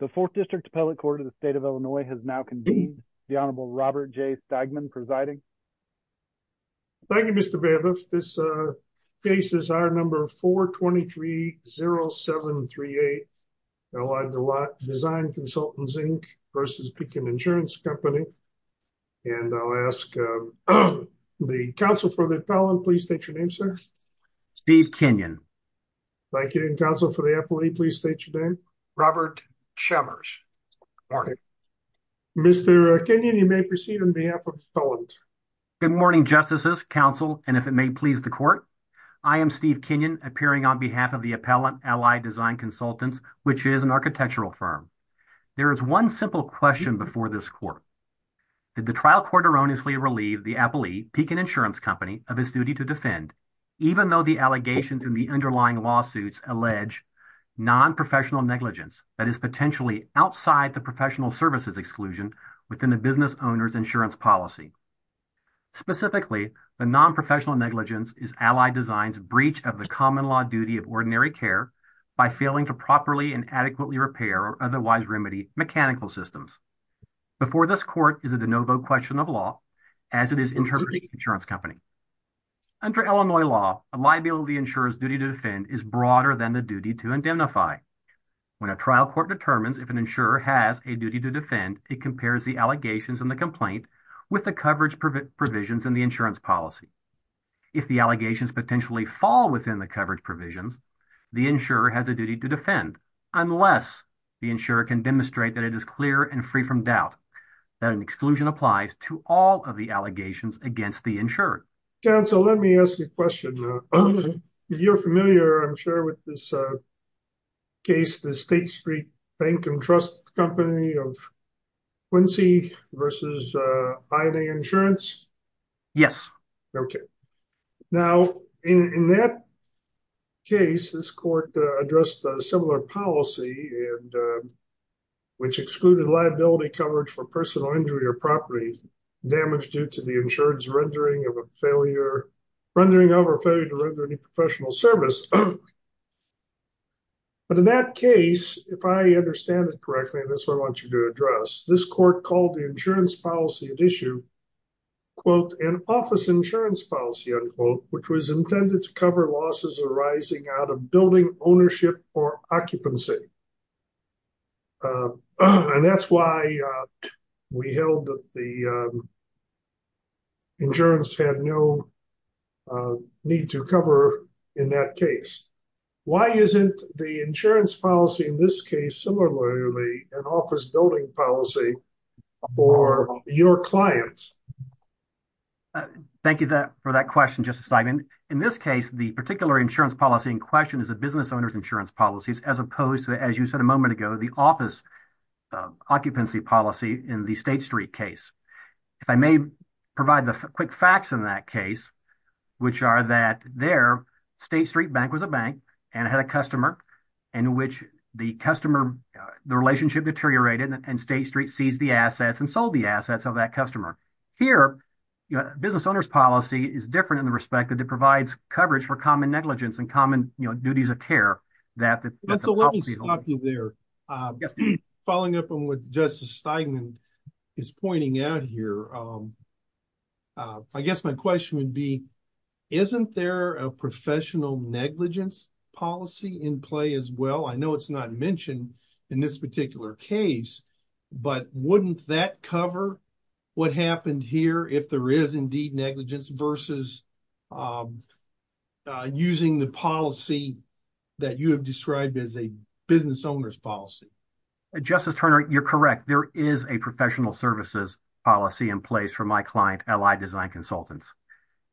The 4th District Appellate Court of the State of Illinois has now convened. The Honorable Robert J. Stagman presiding. Thank you, Mr. Bailiff. This case is our number 4-2-3-0-7-3-8. Allied Design Consultants, Inc. versus Pekin Insurance Company. And I'll ask the counsel for the appellant, please state your name, sir. Steve Kenyon. Thank you. And counsel for the appellate, please state your name. Robert Chemers. Good morning. Mr. Kenyon, you may proceed on behalf of the appellant. Good morning, justices, counsel, and if it may please the court, I am Steve Kenyon appearing on behalf of the appellant, Allied Design Consultants, which is an architectural firm. There is one simple question before this court. Did the trial court erroneously relieve the appellee, Pekin Insurance Company, of his duty to defend, even though the allegations in the underlying lawsuits allege non-professional negligence that is potentially outside the professional services exclusion within a business owner's insurance policy? Specifically, the non-professional negligence is Allied Design's breach of the common law duty of ordinary care by failing to properly and adequately repair or otherwise remedy mechanical systems. Before this court is a de novo question of law, as it is interpreting Pekin Insurance Company. Under Illinois law, a liability insurer's duty to defend is broader than the duty to indemnify. When a trial court determines if an insurer has a duty to defend, it compares the allegations in the complaint with the coverage provisions in the insurance policy. If the allegations potentially fall within the coverage provisions, the insurer has a duty to defend, unless the insurer can demonstrate that it is clear and free from doubt that an exclusion applies to all of the allegations against the insurer. Counsel, let me ask you a question. You're familiar, I'm sure, with this case, the State Street Bank and Trust Company of Quincy versus INA Insurance? Yes. Okay. Now, in that case, this court addressed a similar policy which excluded liability coverage for personal injury or property damage due to the insurance rendering of a failure, rendering of or failure to render any professional service. But in that case, if I understand it correctly, and that's what I want you to address, this court called the insurance policy at issue, quote, an office insurance policy, unquote, which was intended to cover losses arising out of building ownership or occupancy. And that's why we held that the insurance had no need to cover in that case. Why isn't the insurance policy in this case similarly an office building policy for your clients? Thank you for that question, Justice Steinman. In this case, the particular insurance policy in question is a business owner's insurance policies as opposed to, as you said a moment ago, the office occupancy policy in the State Street case. If I may provide the quick facts in that case, which are that there, State Street Bank was a bank and had a customer in which the relationship deteriorated and State Street seized the assets and sold the assets of that customer. Here, business owner's policy is different in the respect that it provides coverage for common negligence and common duties of care that the policy- So let me stop you there. Following up on what Justice Steinman is pointing out here, I guess my question would be, isn't there a professional negligence policy in play as well? I know it's not mentioned in this particular case, but wouldn't that cover what happened here if there is indeed negligence versus using the policy that you have described as a business owner's policy? Justice Turner, you're correct. There is a professional services policy in place for my client, Ally Design Consultants.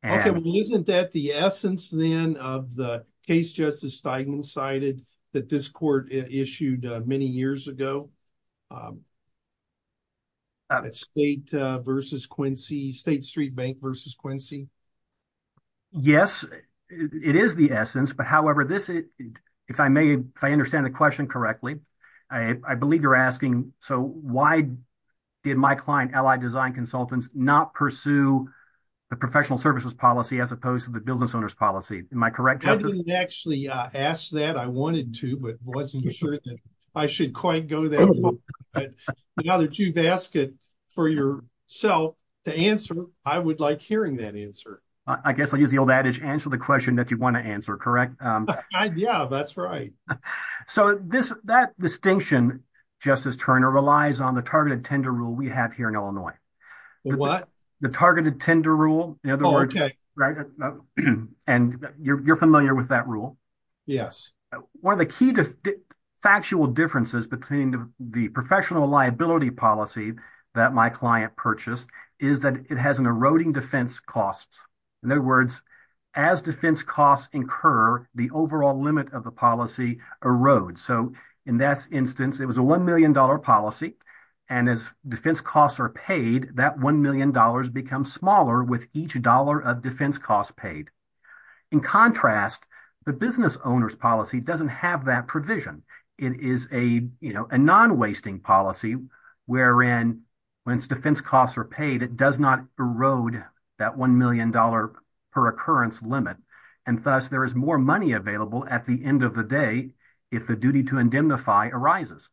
Okay, well, isn't that the essence then of the case Justice Steinman cited that this court issued many years ago? State versus Quincy, State Street Bank versus Quincy? Yes, it is the essence. But however, if I understand the question correctly, I believe you're asking, so why did my client, Ally Design Consultants, not pursue the professional services policy as opposed to the business owner's policy? Am I correct, Justice? I didn't actually ask that. I wanted to, but wasn't sure that I should quite go there. Now that you've asked it for yourself to answer, I would like hearing that answer. I guess I'll use the old adage, answer the question that you want to answer, correct? Yeah, that's right. So that distinction, Justice Turner, relies on the targeted tender rule we have here in Illinois. What? The targeted tender rule, in other words. Oh, okay. And you're familiar with that rule. Yes. One of the key to factual differences between the professional liability policy that my client purchased is that it has an eroding defense costs. In other words, as defense costs incur, the overall limit of the policy erodes. So in that instance, it was a $1 million policy. And as defense costs are paid, that $1 million becomes smaller with each dollar of defense costs paid. In contrast, the business owner's policy doesn't have that provision. It is a non-wasting policy, wherein once defense costs are paid, it does not erode that $1 million per occurrence limit. And thus, there is more money available at the end of the day if the duty to indemnify arises.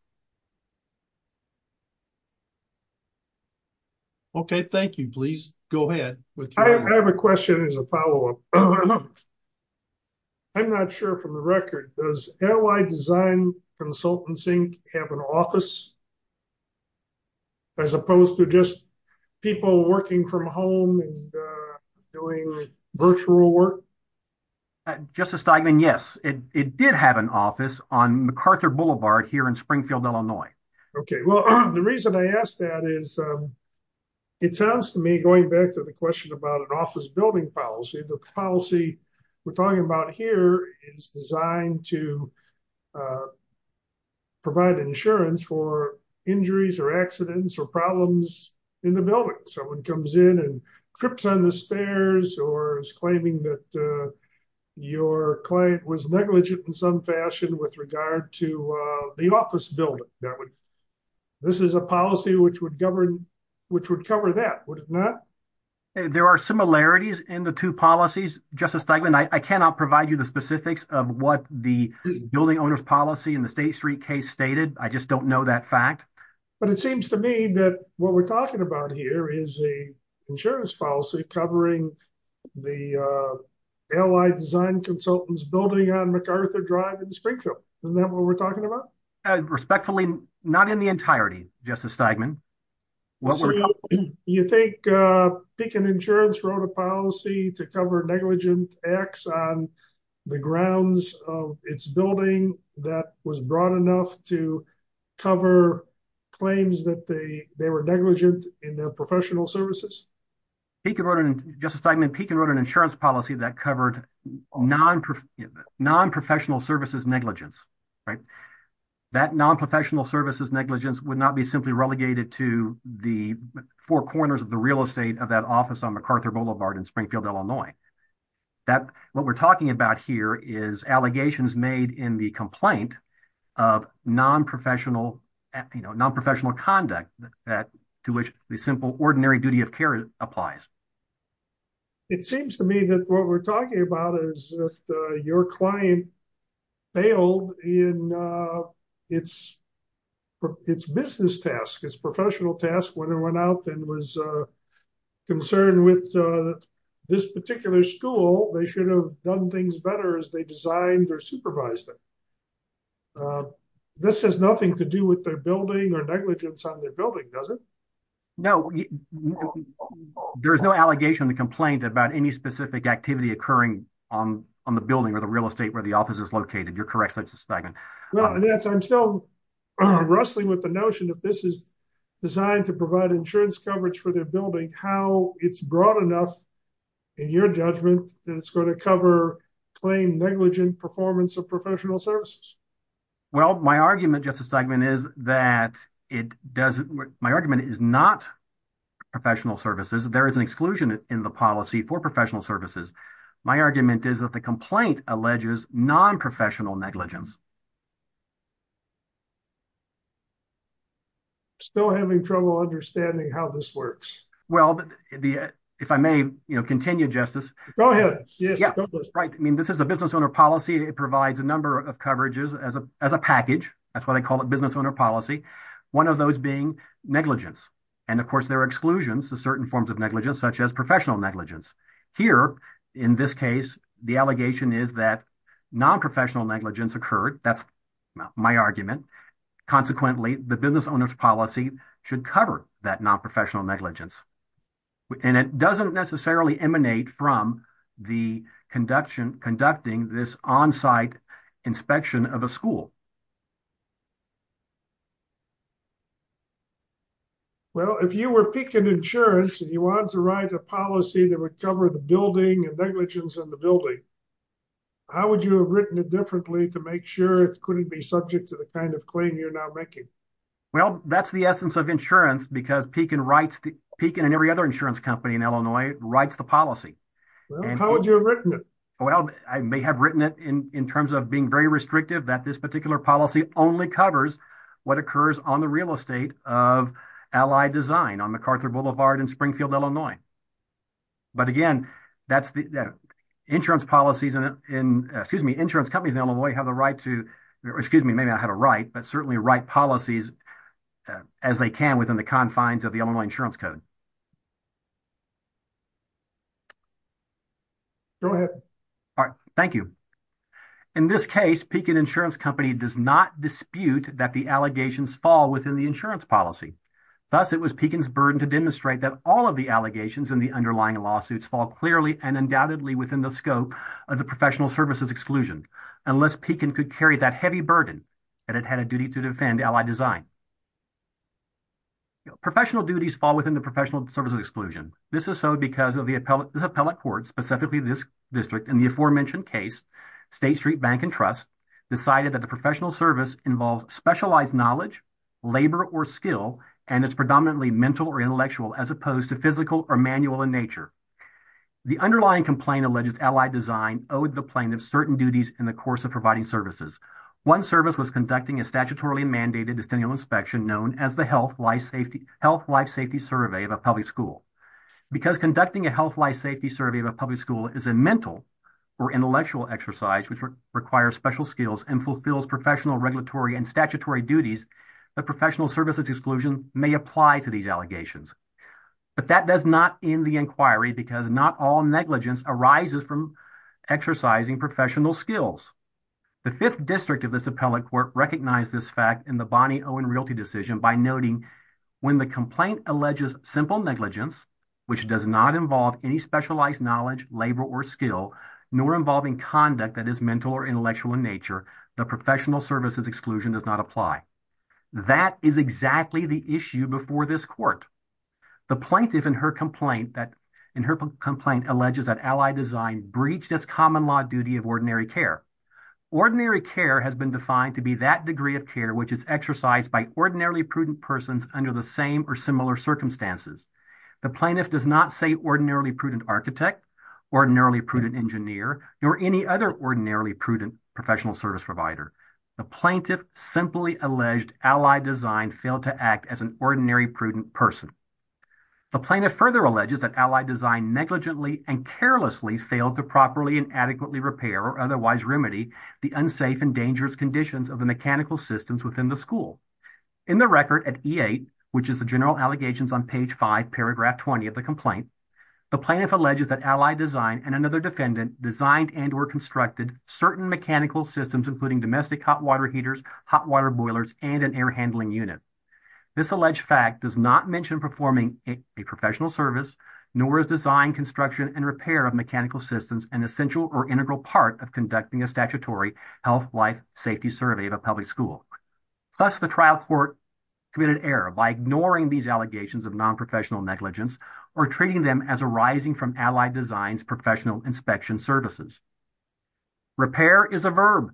Okay, thank you. Please go ahead with your- I have a question as a follow-up. I'm not sure from the record, does Ally Design Consultancy have an office as opposed to just people working from home and doing virtual work? Justice Steigman, yes. It did have an office on MacArthur Boulevard here in Springfield, Illinois. Okay, well, the reason I ask that is it sounds to me, going back to the question about an office building policy, the policy we're talking about here is designed to provide insurance for injuries or accidents or problems in the building. Someone comes in and trips on the stairs or is claiming that your client was negligent in some fashion with regard to the office building. This is a policy which would cover that, would it not? There are similarities in the two policies, Justice Steigman. I cannot provide you the specifics of what the building owner's policy in the State Street case stated. I just don't know that fact. But it seems to me that what we're talking about here is a insurance policy covering the Ally Design Consultants building on MacArthur Drive in Springfield. Isn't that what we're talking about? Respectfully, not in the entirety, Justice Steigman. What we're talking about- You think Pekin Insurance wrote a policy to cover negligent acts on the grounds of its building that was broad enough to cover claims that they were negligent in their professional services? Justice Steigman, Pekin wrote an insurance policy that covered non-professional services negligence, right? That non-professional services negligence would not be simply relegated to the four corners of the real estate of that office on MacArthur Boulevard in Springfield, Illinois. That what we're talking about here is allegations made in the complaint of non-professional conduct to which the simple ordinary duty of care applies. It seems to me that what we're talking about is that your client failed in its business task, its professional task when it went out and was concerned with this particular school, they should have done things better as they designed or supervised it. This has nothing to do with their building or negligence on their building, does it? No, there is no allegation in the complaint about any specific activity occurring on the building or the real estate where the office is located. You're correct, Justice Steigman. Well, I guess I'm still wrestling with the notion that this is designed to provide insurance coverage for their building, how it's broad enough in your judgment that it's gonna cover claim negligent performance of professional services. Well, my argument, Justice Steigman, is that it doesn't, my argument is not professional services. There is an exclusion in the policy for professional services. My argument is that the complaint alleges non-professional negligence. Still having trouble understanding how this works. Well, if I may continue, Justice. Go ahead, yes. Right, I mean, this is a business owner policy. It provides a number of coverages as a package. That's why they call it business owner policy. One of those being negligence. And of course, there are exclusions to certain forms of negligence, such as professional negligence. Here, in this case, the allegation is that non-professional negligence occurred. That's my argument. Consequently, the business owner's policy should cover that non-professional negligence. And it doesn't necessarily emanate from the conducting this onsite inspection of a school. Well, if you were picking insurance and you wanted to write a policy that would cover the building and negligence in the building, how would you have written it differently to make sure it couldn't be subject to the kind of claim you're now making? Well, that's the essence of insurance because Pekin and every other insurance company in Illinois writes the policy. Well, how would you have written it? Well, I may have written it in terms of being very restrictive that this particular policy only covers what occurs on the real estate of Allied Design on MacArthur Boulevard in Springfield, Illinois. But again, that's the insurance policies and excuse me, insurance companies in Illinois have the right to, excuse me, maybe I had a right, but certainly right policies as they can within the confines of the Illinois Insurance Code. Go ahead. All right, thank you. In this case, Pekin Insurance Company does not dispute that the allegations fall within the insurance policy. Thus it was Pekin's burden to demonstrate that all of the allegations in the underlying lawsuits fall clearly and undoubtedly within the scope of the professional services exclusion unless Pekin could carry that heavy burden that it had a duty to defend Allied Design. Professional duties fall within the professional services exclusion. This is so because of the appellate court, specifically this district in the aforementioned case, State Street Bank and Trust decided that the professional service involves specialized knowledge, labor or skill, and it's predominantly mental or intellectual as opposed to physical or manual in nature. The underlying complaint alleges Allied Design owed the plaintiff certain duties in the course of providing services. One service was conducting a statutorily mandated distinct inspection known as the Health Life Safety Survey of a public school. Because conducting a Health Life Safety Survey of a public school is a mental or intellectual exercise which requires special skills and fulfills professional regulatory and statutory duties, the professional services exclusion may apply to these allegations. But that does not end the inquiry because not all negligence arises from exercising professional skills. The fifth district of this appellate court recognized this fact in the Bonney-Owen Realty Decision by noting when the complaint alleges simple negligence, which does not involve any specialized knowledge, labor or skill, nor involving conduct that is mental or intellectual in nature, the professional services exclusion does not apply. That is exactly the issue before this court. The plaintiff in her complaint alleges that Allied Design breached as common law duty of ordinary care. Ordinary care has been defined to be that degree of care which is exercised by ordinarily prudent persons under the same or similar circumstances. The plaintiff does not say ordinarily prudent architect, ordinarily prudent engineer, nor any other ordinarily prudent professional service provider. The plaintiff simply alleged Allied Design failed to act as an ordinary prudent person. The plaintiff further alleges that Allied Design negligently and carelessly failed to properly and adequately repair or otherwise remedy the unsafe and dangerous conditions of the mechanical systems within the school. In the record at E-8, which is the general allegations on page five, paragraph 20 of the complaint, the plaintiff alleges that Allied Design and another defendant designed and or constructed certain mechanical systems, including domestic hot water heaters, hot water boilers, and an air handling unit. This alleged fact does not mention performing a professional service, nor is design construction and repair of mechanical systems an essential or integral part of conducting a statutory health life safety survey of a public school. Thus the trial court committed error by ignoring these allegations of non-professional negligence or treating them as arising from Allied Design's professional inspection services. Repair is a verb.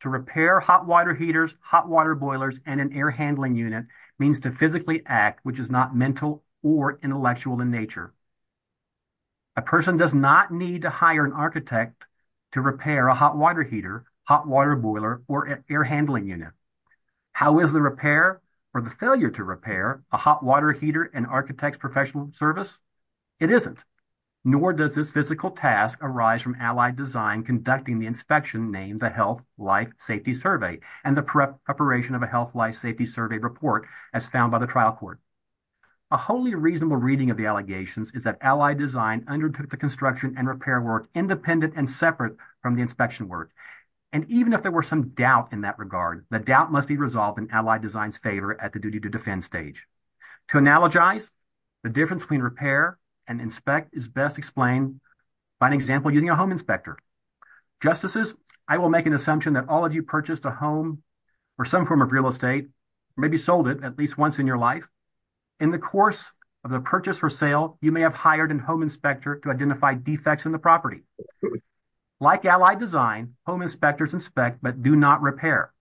To repair hot water heaters, hot water boilers, and an air handling unit means to physically act, which is not mental or intellectual in nature. A person does not need to hire an architect to repair a hot water heater, hot water boiler, or air handling unit. How is the repair or the failure to repair a hot water heater and architect's professional service? It isn't, nor does this physical task arise from Allied Design conducting the inspection named the Health Life Safety Survey and the preparation of a Health Life Safety Survey report as found by the trial court. A wholly reasonable reading of the allegations is that Allied Design undertook the construction and repair work independent and separate from the inspection work. And even if there were some doubt in that regard, the doubt must be resolved in Allied Design's favor at the duty to defend stage. To analogize, the difference between repair and inspect is best explained by an example using a home inspector. Justices, I will make an assumption that all of you purchased a home or some form of real estate, maybe sold it at least once in your life. In the course of the purchase or sale, you may have hired a home inspector to identify defects in the property. Like Allied Design, home inspectors inspect, but do not repair.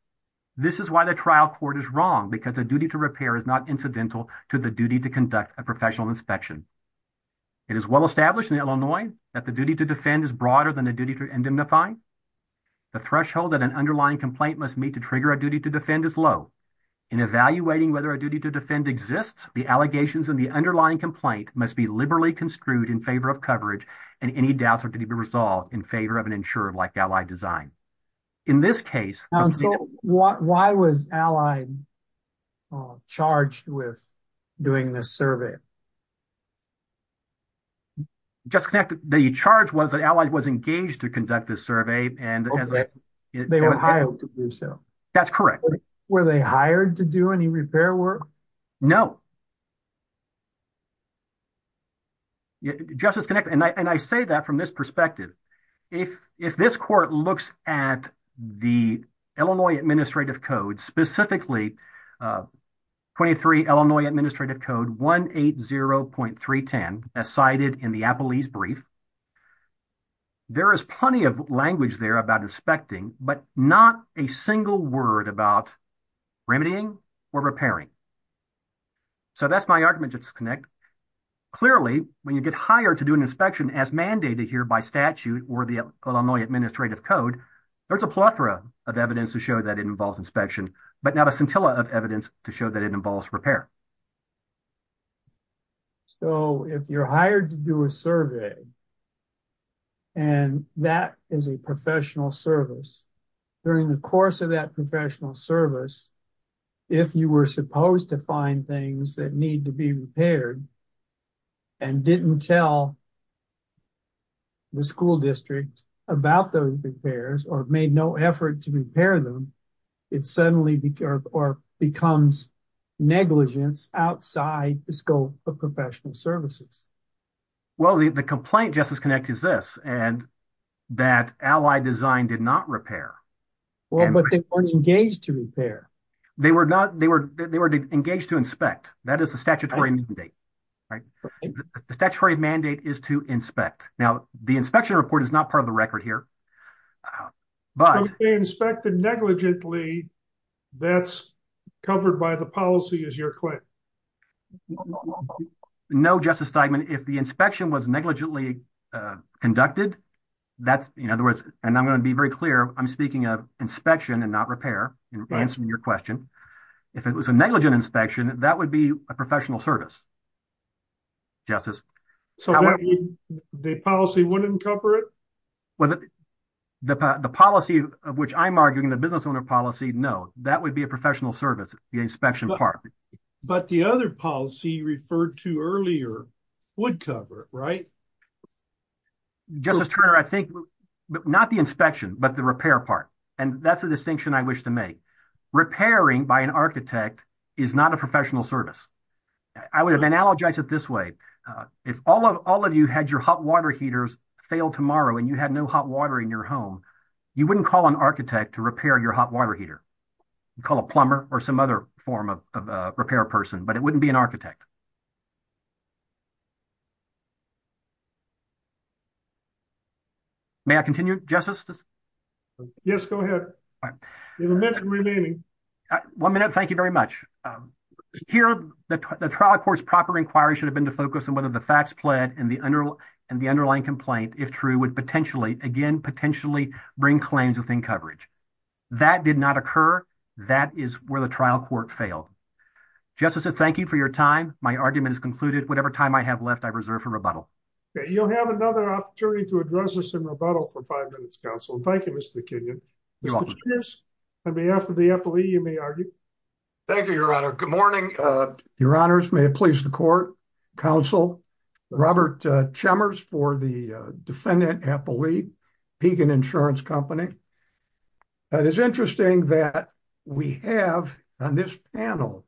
This is why the trial court is wrong because a duty to repair is not incidental to the duty to conduct a professional inspection. It is well-established in Illinois that the duty to defend is broader than the duty to indemnify. The threshold that an underlying complaint must meet to trigger a duty to defend is low. In evaluating whether a duty to defend exists, the allegations in the underlying complaint must be liberally construed in favor of coverage and any doubts are to be resolved in favor of an insurer like Allied Design. In this case- So why was Allied charged with doing this survey? Justice Connick, the charge was that Allied was engaged to conduct this survey and- Okay, they were hired to do so. That's correct. Were they hired to do any repair work? No. Justice Connick, and I say that from this perspective, if this court looks at the Illinois Administrative Code, specifically 23 Illinois Administrative Code 180.310 as cited in the Appelese brief, there is plenty of language there about inspecting, but not a single word about remedying or repairing. So that's my argument, Justice Connick. Clearly, when you get hired to do an inspection as mandated here by statute or the Illinois Administrative Code, there's a plethora of evidence to show that it involves inspection, but not a scintilla of evidence to show that it involves repair. So if you're hired to do a survey and that is a professional service, during the course of that professional service, if you were supposed to find things that need to be repaired and didn't tell the school district about those repairs or made no effort to repair them, it suddenly becomes negligence outside the scope of professional services. Well, the complaint, Justice Connick, is this, and that Ally Design did not repair. But they weren't engaged to repair. They were engaged to inspect. That is a statutory mandate. The statutory mandate is to inspect. Now, the inspection report is not part of the record here. But if they inspected negligently, that's covered by the policy as your claim. No, Justice Steigman. If the inspection was negligently conducted, that's, in other words, and I'm going to be very clear, I'm speaking of inspection and not repair in answering your question. If it was a negligent inspection, that would be a professional service, Justice. So the policy wouldn't cover it? Well, the policy of which I'm arguing, the business owner policy, no, that would be a professional service, the inspection part. But the other policy you referred to earlier would cover it, right? Justice Turner, I think not the inspection, but the repair part. And that's a distinction I wish to make. Repairing by an architect is not a professional service. I would have analogized it this way. If all of you had your hot water heaters fail tomorrow and you had no hot water in your home, you wouldn't call an architect to repair your hot water heater. You'd call a plumber or some other form of repair person, but it wouldn't be an architect. May I continue, Justice? Yes, go ahead. You have a minute remaining. One minute, thank you very much. Here, the trial court's proper inquiry should have been to focus on whether the facts pled and the underlying complaint, if true, would potentially, again, potentially bring claims within coverage. That did not occur. That is where the trial court failed. Justice, thank you for your time. My argument is concluded. Whatever time I have left, I reserve for rebuttal. Okay, you'll have another opportunity to address this in rebuttal for five minutes, counsel. Thank you, Mr. Kenyon. You're welcome. On behalf of the appellee, you may argue. Thank you, Your Honor. Good morning, Your Honors. May it please the court, counsel, Robert Chemmers, for the defendant appellee, Pagan Insurance Company. It is interesting that we have, on this panel,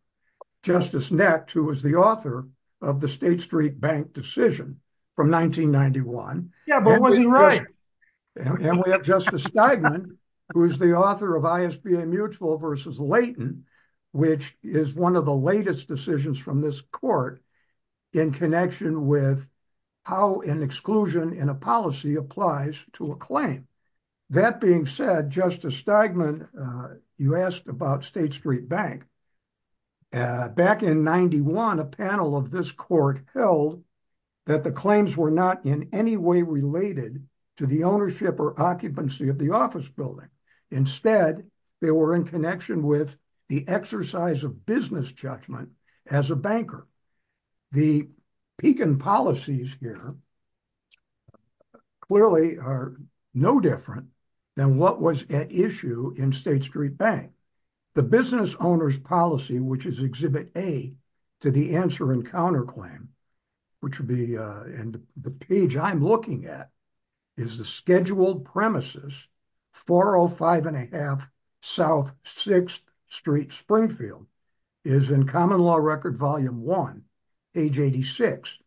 Justice Nett, who was the author of the State Street Bank decision from 1991. Yeah, but was he right? And we have Justice Steigman, who is the author of ISBA Mutual v. Leighton, which is one of the latest decisions from this court in connection with how an exclusion in a policy applies to a claim. That being said, Justice Steigman, you asked about State Street Bank. Back in 91, a panel of this court held that the claims were not in any way related to the ownership or occupancy of the office building. Instead, they were in connection with the exercise of business judgment as a banker. The Pagan policies here clearly are no different than what was at issue in State Street Bank. The business owner's policy, which is Exhibit A, to the answer and counterclaim, and the page I'm looking at is the scheduled premises, 405 1⁄2 South 6th Street, Springfield, is in Common Law Record Volume 1, page 86.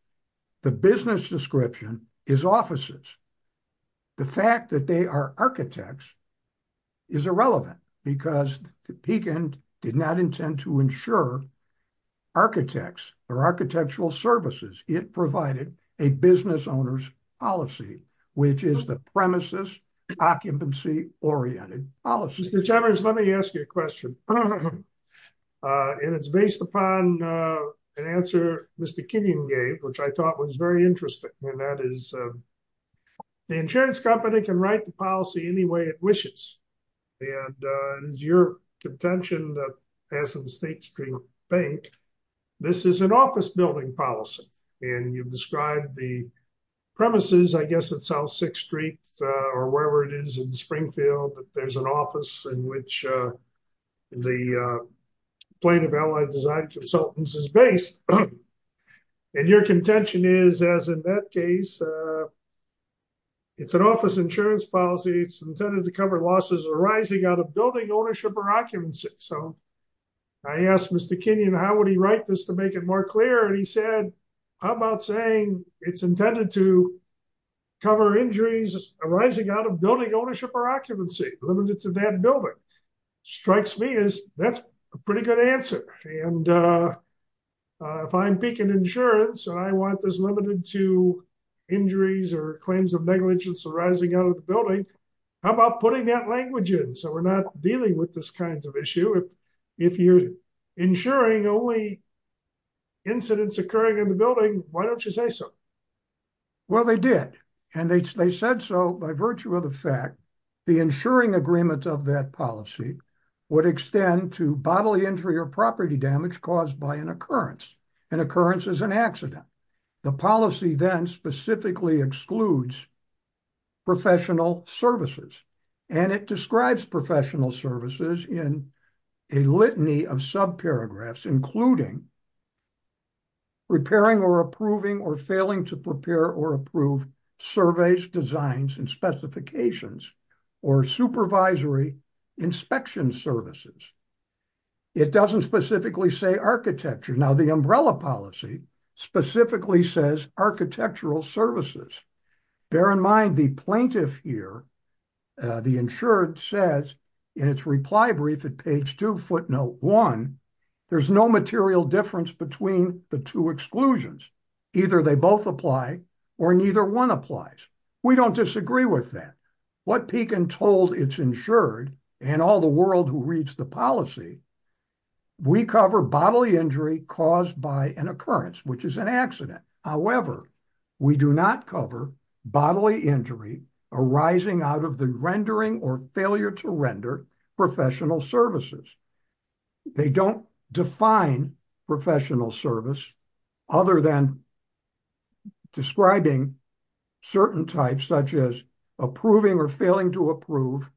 The business description is offices. The fact that they are architects is irrelevant because the Pagan did not intend to insure architects or architectural services. It provided a business owner's policy, which is the premises occupancy-oriented policy. Mr. Chambers, let me ask you a question. And it's based upon an answer Mr. Kenyon gave, which I thought was very interesting. And that is, the insurance company can write the policy any way it wishes. And it is your contention that as in State Street Bank, this is an office building policy. And you've described the premises, I guess, at South 6th Street or wherever it is in Springfield, that there's an office in which the plaintiff, Allied Design Consultants is based. And your contention is, as in that case, it's an office insurance policy. It's intended to cover losses arising out of building ownership or occupancy. So I asked Mr. Kenyon, how would he write this to make it more clear? And he said, how about saying it's intended to cover injuries arising out of building ownership or occupancy limited to that building? Strikes me as that's a pretty good answer. And if I'm peaking insurance and I want this limited to injuries or claims of negligence arising out of the building, how about putting that language in so we're not dealing with this kind of issue? If you're insuring only incidents occurring in the building, why don't you say so? Well, they did. And they said so by virtue of the fact, the insuring agreement of that policy would extend to bodily injury or property damage caused by an occurrence. An occurrence is an accident. The policy then specifically excludes professional services and it describes professional services in a litany of sub paragraphs, including repairing or approving or failing to prepare or approve surveys, designs and specifications or supervisory inspection services. It doesn't specifically say architecture. Now the umbrella policy specifically says architectural services. Bear in mind the plaintiff here, the insured says in its reply brief at page two footnote one, there's no material difference between the two exclusions. Either they both apply or neither one applies. We don't disagree with that. What Pekin told its insured and all the world who reads the policy, we cover bodily injury caused by an occurrence, which is an accident. However, we do not cover bodily injury arising out of the rendering or failure to render professional services. They don't define professional service other than describing certain types, such as approving or failing to approve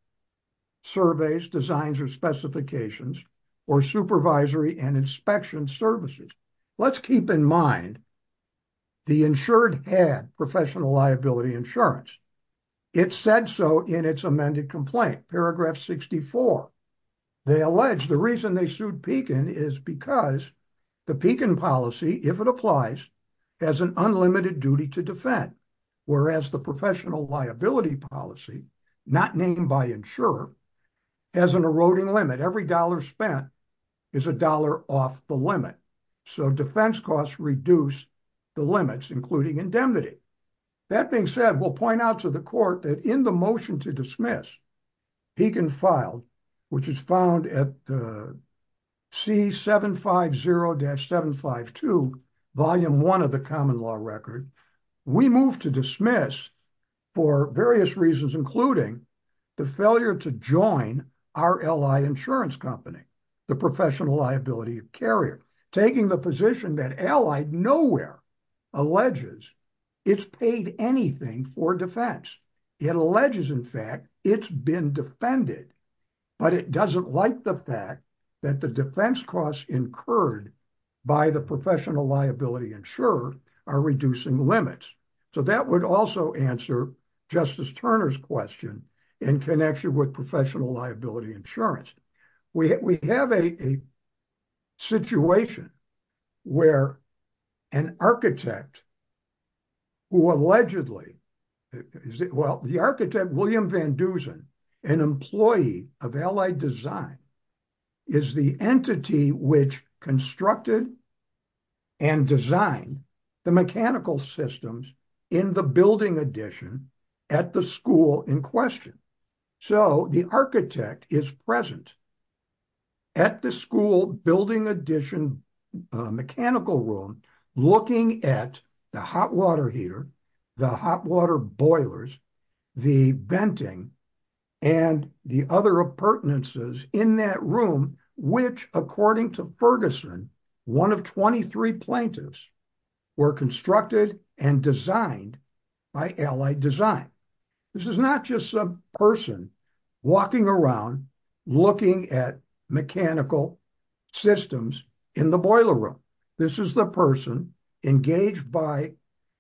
surveys, designs or specifications or supervisory and inspection services. Let's keep in mind the insured had professional liability insurance. It said so in its amended complaint, paragraph 64. They allege the reason they sued Pekin is because the Pekin policy, if it applies, has an unlimited duty to defend, whereas the professional liability policy, not named by insurer, has an eroding limit. Every dollar spent is a dollar off the limit. So defense costs reduce the limits, including indemnity. That being said, we'll point out to the court that in the motion to dismiss, Pekin filed, which is found at C-750-752, volume one of the common law record. We move to dismiss for various reasons, including the failure to join our ally insurance company, the professional liability carrier, taking the position that allied nowhere alleges it's paid anything for defense. It alleges in fact, it's been defended, but it doesn't like the fact that the defense costs incurred by the professional liability insurer are reducing limits. So that would also answer Justice Turner's question in connection with professional liability insurance. We have a situation where an architect who allegedly, well, the architect, William Van Dusen, an employee of Allied Design, is the entity which constructed and designed the mechanical systems in the building addition at the school in question. So the architect is present at the school building addition mechanical room, looking at the hot water heater, the hot water boilers, the venting and the other appurtenances in that room, which according to Ferguson, one of 23 plaintiffs were constructed and designed by Allied Design. This is not just a person walking around looking at mechanical systems in the boiler room. This is the person engaged by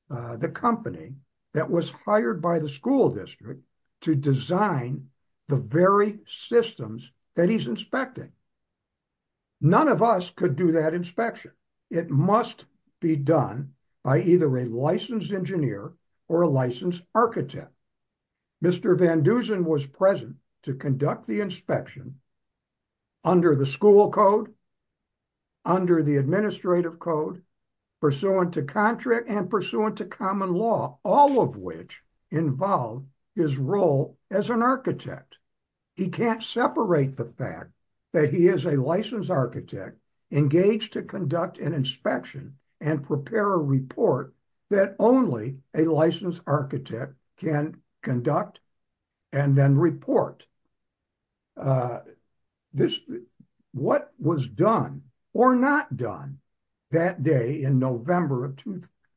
the company that was hired by the school district to design the very systems that he's inspecting. None of us could do that inspection. It must be done by either a licensed engineer or a licensed architect. Mr. Van Dusen was present to conduct the inspection under the school code, under the administrative code, pursuant to contract and pursuant to common law, all of which involve his role as an architect. He can't separate the fact that he is a licensed architect engaged to conduct an inspection and prepare a report that only a licensed architect can conduct and then report. What was done or not done that day in November of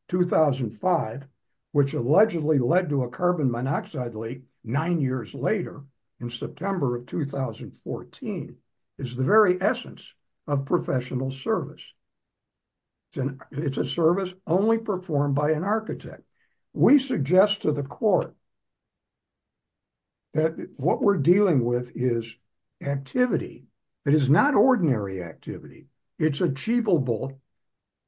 2005, which allegedly led to a carbon monoxide leak nine years later in September of 2014, is the very essence of professional service. It's a service only performed by an architect. We suggest to the court that what we're dealing with is activity. It is not ordinary activity. It's achievable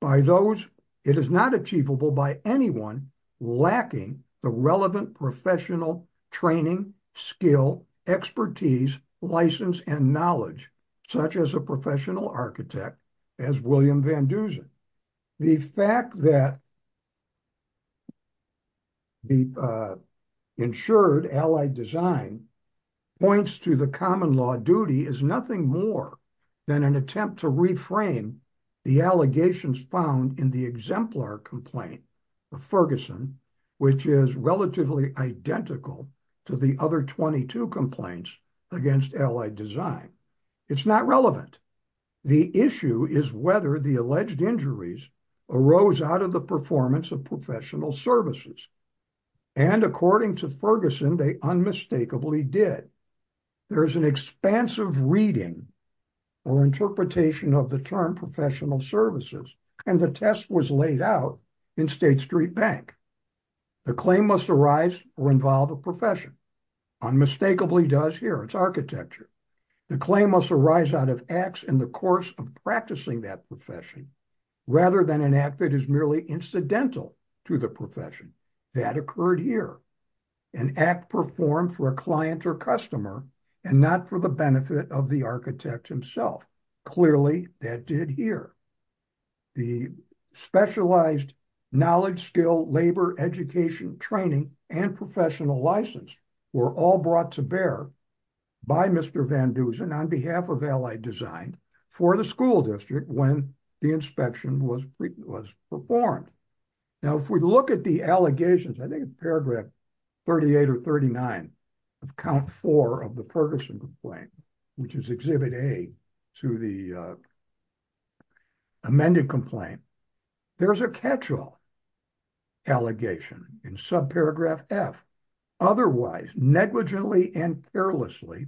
by those. It is not achievable by anyone lacking the relevant professional training, skill, expertise, license and knowledge, such as a professional architect as William Van Dusen. The fact that the insured Allied Design points to the common law duty is nothing more than an attempt to reframe the allegations found in the exemplar complaint of Ferguson, which is relatively identical to the other 22 complaints against Allied Design. It's not relevant. The issue is whether the alleged injuries arose out of the performance of professional services. And according to Ferguson, they unmistakably did. There is an expansive reading or interpretation of the term professional services, and the test was laid out in State Street Bank. The claim must arise or involve a profession. Unmistakably does here. It's architecture. The claim must arise out of acts in the course of practicing that profession, rather than an act that is merely incidental to the profession. That occurred here. An act performed for a client or customer and not for the benefit of the architect himself. Clearly that did here. The specialized knowledge, skill, labor, education, training and professional license were all brought to bear by Mr. Van Dusen on behalf of Allied Design for the school district when the inspection was performed. Now, if we look at the allegations, I think it's paragraph 38 or 39 of count four of the Ferguson complaint, which is exhibit A to the amended complaint. There's a catch-all allegation in subparagraph F, otherwise negligently and carelessly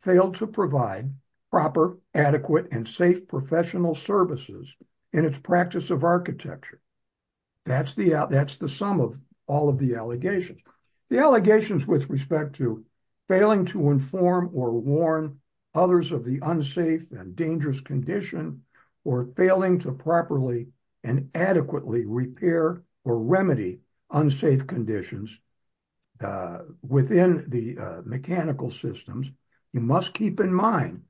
failed to provide proper, adequate and safe professional services in its practice of architecture. That's the that's the sum of all of the allegations. The allegations with respect to failing to inform or warn others of the unsafe and dangerous condition or failing to properly and adequately repair or remedy unsafe conditions within the mechanical systems. You must keep in mind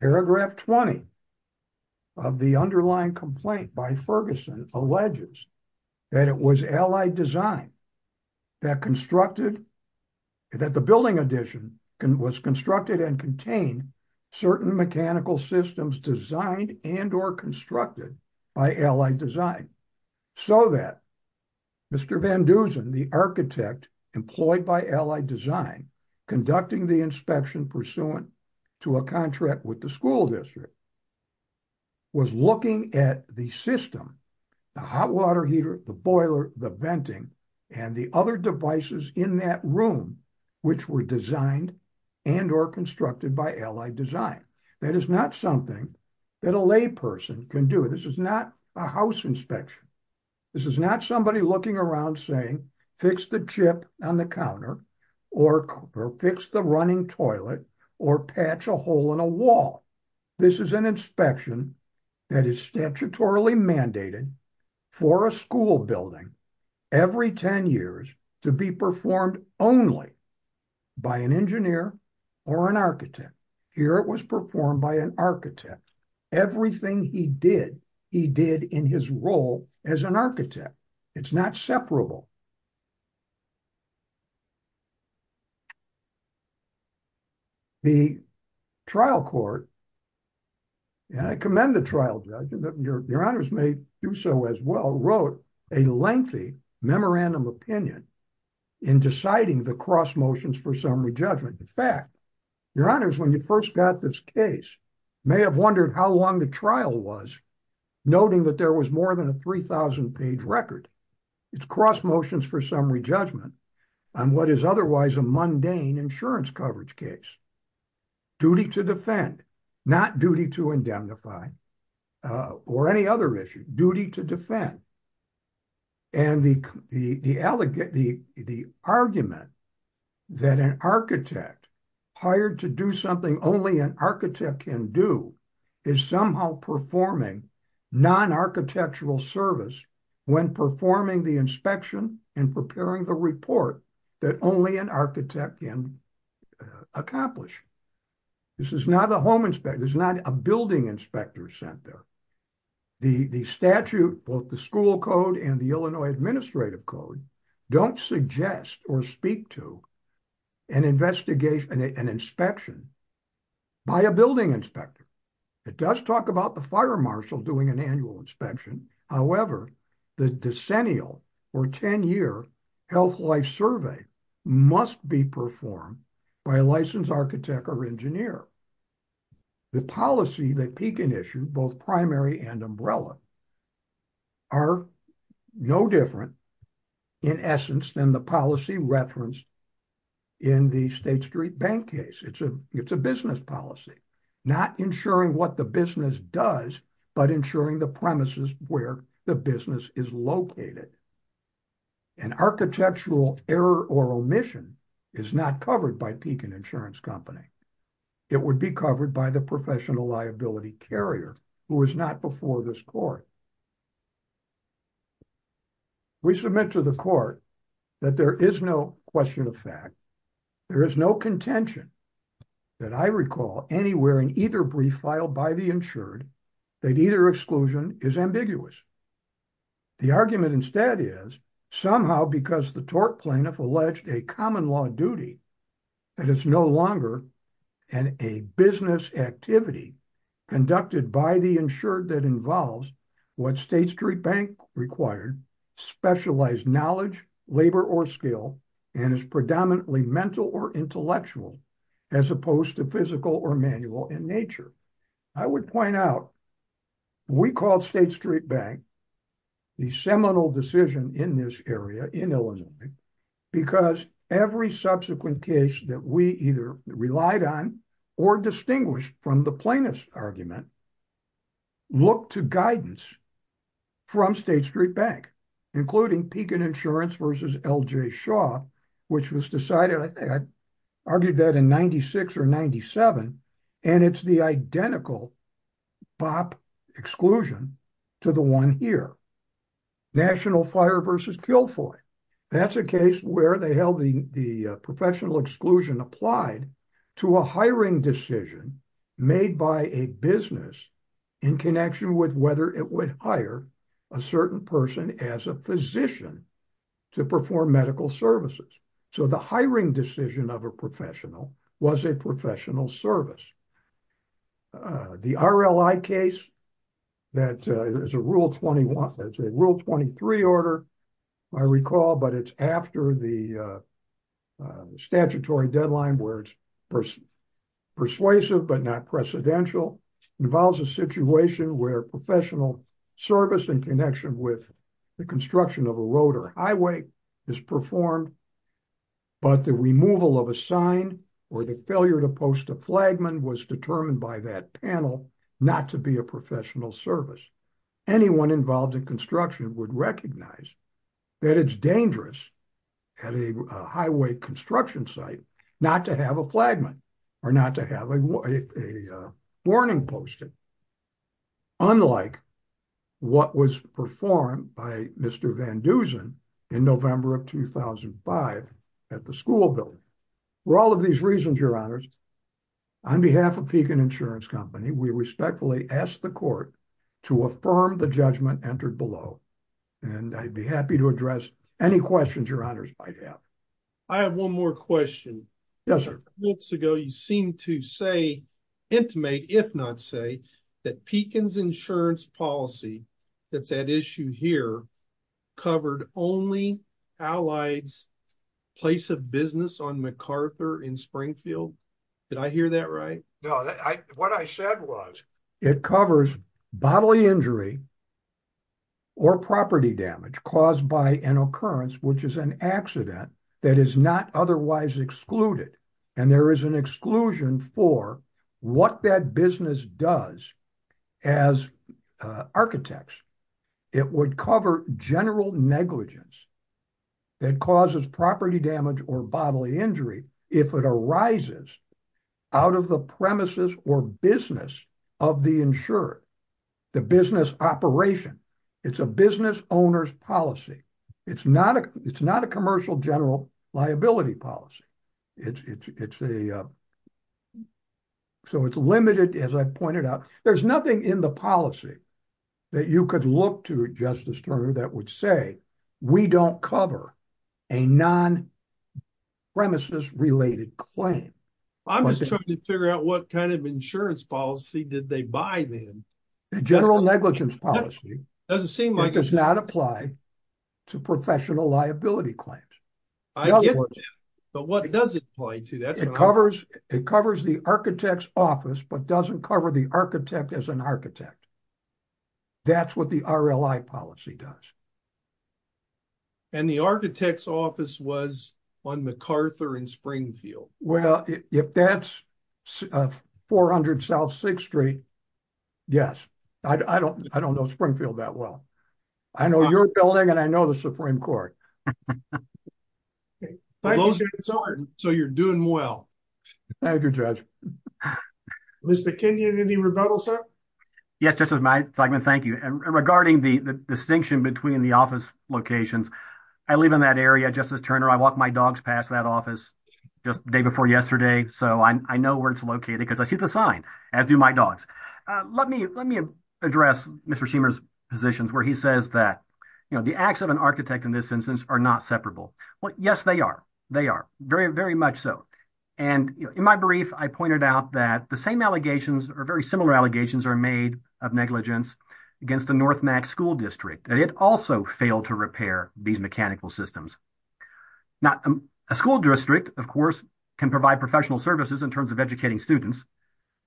paragraph 20 of the underlying complaint by Ferguson alleges that it was Allied Design that constructed that the building addition was constructed and contained certain mechanical systems designed and or constructed by Allied Design so that Mr. Van Dusen, the architect employed by Allied Design conducting the inspection pursuant to a contract with the school district was looking at the system, the hot water heater, the boiler, the venting and the other devices in that room which were designed and or constructed by Allied Design. That is not something that a lay person can do. This is not a house inspection. This is not somebody looking around saying fix the chip on the counter or fix the running toilet or patch a hole in a wall. This is an inspection that is statutorily mandated for a school building every 10 years to be performed only by an engineer or an architect. Here it was performed by an architect. Everything he did, he did in his role as an architect. It's not separable. The trial court, and I commend the trial judge, your honors may do so as well, wrote a lengthy memorandum opinion in deciding the cross motions for summary judgment. In fact, your honors, when you first got this case, may have wondered how long the trial was, noting that there was more than a 3,000 page record. It's cross motions for summary judgment on what is otherwise a mundane insurance coverage case. Duty to defend, not duty to indemnify or any other issue, duty to defend. And the argument that an architect hired to do something only an architect can do is somehow performing non-architectural service when performing the inspection and preparing the report that only an architect can accomplish. This is not a home inspector. It's not a building inspector sent there. The statute, both the school code and the Illinois Administrative Code don't suggest or speak to an investigation, an inspection by a building inspector. It does talk about the fire marshal doing an annual inspection. However, the decennial or 10 year health life survey must be performed by a licensed architect or engineer. The policy that Pekin issued, both primary and umbrella, are no different, in essence, than the policy referenced in the State Street Bank case. It's a business policy, not ensuring what the business does, but ensuring the premises where the business is located. An architectural error or omission is not covered by Pekin Insurance Company. It would be covered by the professional liability carrier who is not before this court. We submit to the court that there is no question of fact, there is no contention that I recall anywhere in either brief filed by the insured that either exclusion is ambiguous. The argument instead is somehow because the tort plaintiff alleged a common law duty that is no longer an a business activity conducted by the insured that involves what State Street Bank required, specialized knowledge, labor or skill, and is predominantly mental or intellectual, as opposed to physical or manual in nature. I would point out, we called State Street Bank the seminal decision in this area in Illinois, because every subsequent case that we either relied on or distinguished from the plaintiff's argument looked to guidance from State Street Bank, including Pekin Insurance versus L.J. Shaw, which was decided, I argued that in 96 or 97, and it's the identical BOP exclusion to the one here, National Fire versus Kilfoy. That's a case where they held the professional exclusion applied to a hiring decision made by a business in connection with whether it would hire a certain person as a physician to perform medical services. So the hiring decision of a professional was a professional service. The RLI case, that is a rule 21, that's a rule 23 order, I recall, but it's after the statutory deadline where it's persuasive, but not precedential, involves a situation where professional service in connection with the construction of a road or highway is performed, but the removal of a sign or the failure to post a flagman was determined by that panel not to be a professional service. Anyone involved in construction would recognize that it's dangerous at a highway construction site not to have a flagman or not to have a warning posted. Unlike what was performed by Mr. Van Dusen in November of 2005 at the school building. For all of these reasons, your honors, on behalf of Pekin Insurance Company, we respectfully ask the court to affirm the judgment entered below. And I'd be happy to address any questions your honors might have. I have one more question. Yes, sir. Months ago, you seem to say, intimate if not say, that Pekin's insurance policy that's at issue here covered only Allied's place of business on MacArthur in Springfield. Did I hear that right? No, what I said was it covers bodily injury or property damage caused by an occurrence, which is an accident that is not otherwise excluded. And there is an exclusion for what that business does as architects. It would cover general negligence that causes property damage or bodily injury if it arises out of the premises or business of the insured. The business operation. It's a business owner's policy. It's not a commercial general liability policy. So it's limited, as I pointed out. There's nothing in the policy that you could look to, Justice Turner, that would say we don't cover a non-premises related claim. I'm just trying to figure out what kind of insurance policy did they buy then. General negligence policy doesn't seem like it does not apply to professional liability claims. But what does it apply to? It covers the architect's office, but doesn't cover the architect as an architect. That's what the RLI policy does. And the architect's office was on MacArthur and Springfield. Well, if that's 400 South 6th Street, yes. I don't know Springfield that well. I know your building and I know the Supreme Court. So you're doing well. Thank you, Judge. Mr. Kenyon, any rebuttal, sir? Yes, Justice Zeigman. Thank you. Regarding the distinction between the office locations, I live in that area, Justice Turner. I walked my dogs past that office just the day before yesterday. So I know where it's located because I see the sign, as do my dogs. Let me address Mr. Schemer's positions where he says that, you know, the acts of an architect in this instance are not separable. Well, yes, they are. They are very, very much so. And in my brief, I pointed out that the same allegations or very similar allegations are made of negligence against the North Max School District. And it also failed to repair these mechanical systems. Now, a school district, of course, can provide professional services in terms of educating students.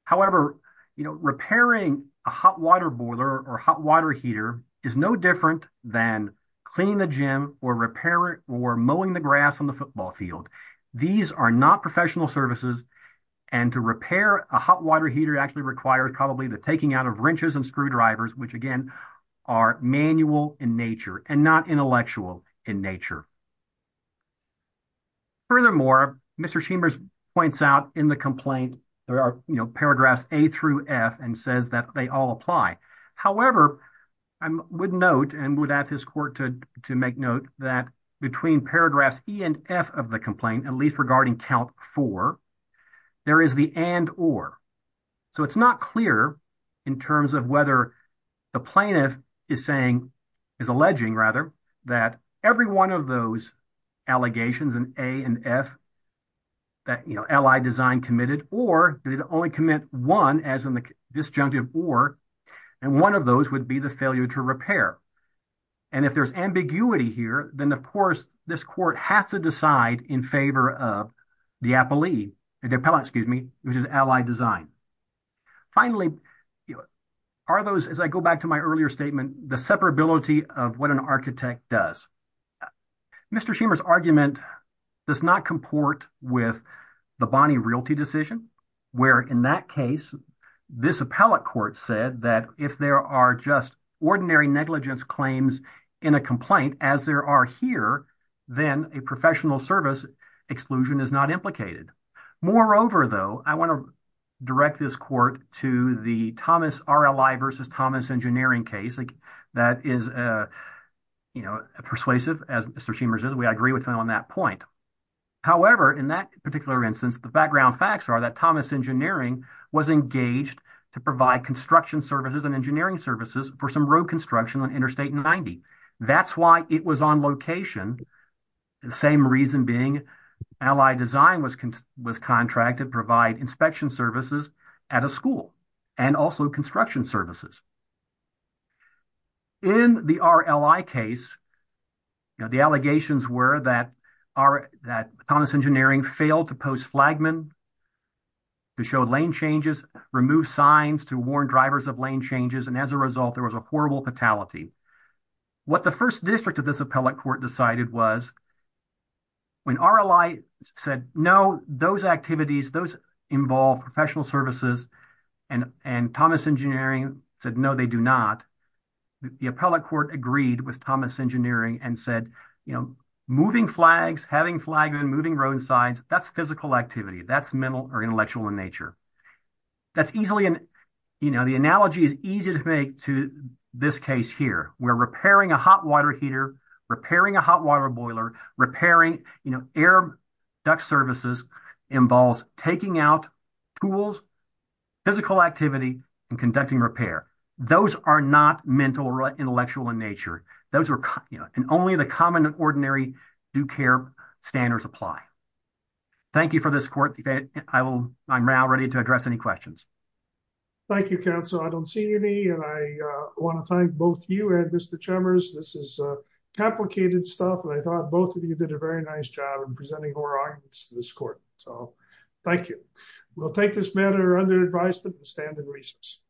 However, you know, repairing a hot water boiler or hot water heater is no different than cleaning the gym or repairing or mowing the grass on the football field. These are not professional services. And to repair a hot water heater actually requires probably the taking out of wrenches and screwdrivers, which again are manual in nature and not intellectual in nature. Furthermore, Mr. Schemer's points out in the complaint, there are paragraphs A through F and says that they all apply. However, I would note and would ask his court to make note that between paragraphs E and F of the complaint, at least regarding count four, there is the and or. It's not clear in terms of whether the plaintiff is saying, is alleging, rather, that every one of those allegations in A and F, that, you know, Allied Design committed or did only commit one as in the disjunctive or, and one of those would be the failure to repair. And if there's ambiguity here, then, of course, this court has to decide in favor of the appellee, the appellant, excuse me, which is Allied Design. Finally, are those, as I go back to my earlier statement, the separability of what an architect does. Mr. Schemer's argument does not comport with the Bonney Realty decision, where in that case, this appellate court said that if there are just ordinary negligence claims in a complaint as there are here, then a professional service exclusion is not implicated. Moreover, though, I want to direct this court to the Thomas RLI versus Thomas Engineering case. That is, you know, persuasive as Mr. Schemer's is. We agree with him on that point. However, in that particular instance, the background facts are that Thomas Engineering was engaged to provide construction services and engineering services for some road construction on Interstate 90. That's why it was on location. The same reason being Allied Design was contracted to provide inspection services at a school and also construction services. In the RLI case, the allegations were that Thomas Engineering failed to post flagmen, to show lane changes, remove signs, to warn drivers of lane changes. And as a result, there was a horrible fatality. What the first district of this appellate court decided was when RLI said, no, those activities, those involve professional services and Thomas Engineering said, no, they do not. The appellate court agreed with Thomas Engineering and said, you know, moving flags, having flagmen, moving road signs, that's physical activity. That's mental or intellectual in nature. That's easily, you know, the analogy is easy to make to this case here. We're repairing a hot water heater, repairing a hot water boiler, repairing, you know, duct services involves taking out tools, physical activity, and conducting repair. Those are not mental or intellectual in nature. Those are, you know, and only the common and ordinary do care standards apply. Thank you for this court debate. I will, I'm now ready to address any questions. Thank you, counsel. I don't see any, and I want to thank both you and Mr. Chemers. This is complicated stuff and I thought both of you did a very nice job in presenting more arguments to this court. So thank you. We'll take this matter under advisement and stand in recess.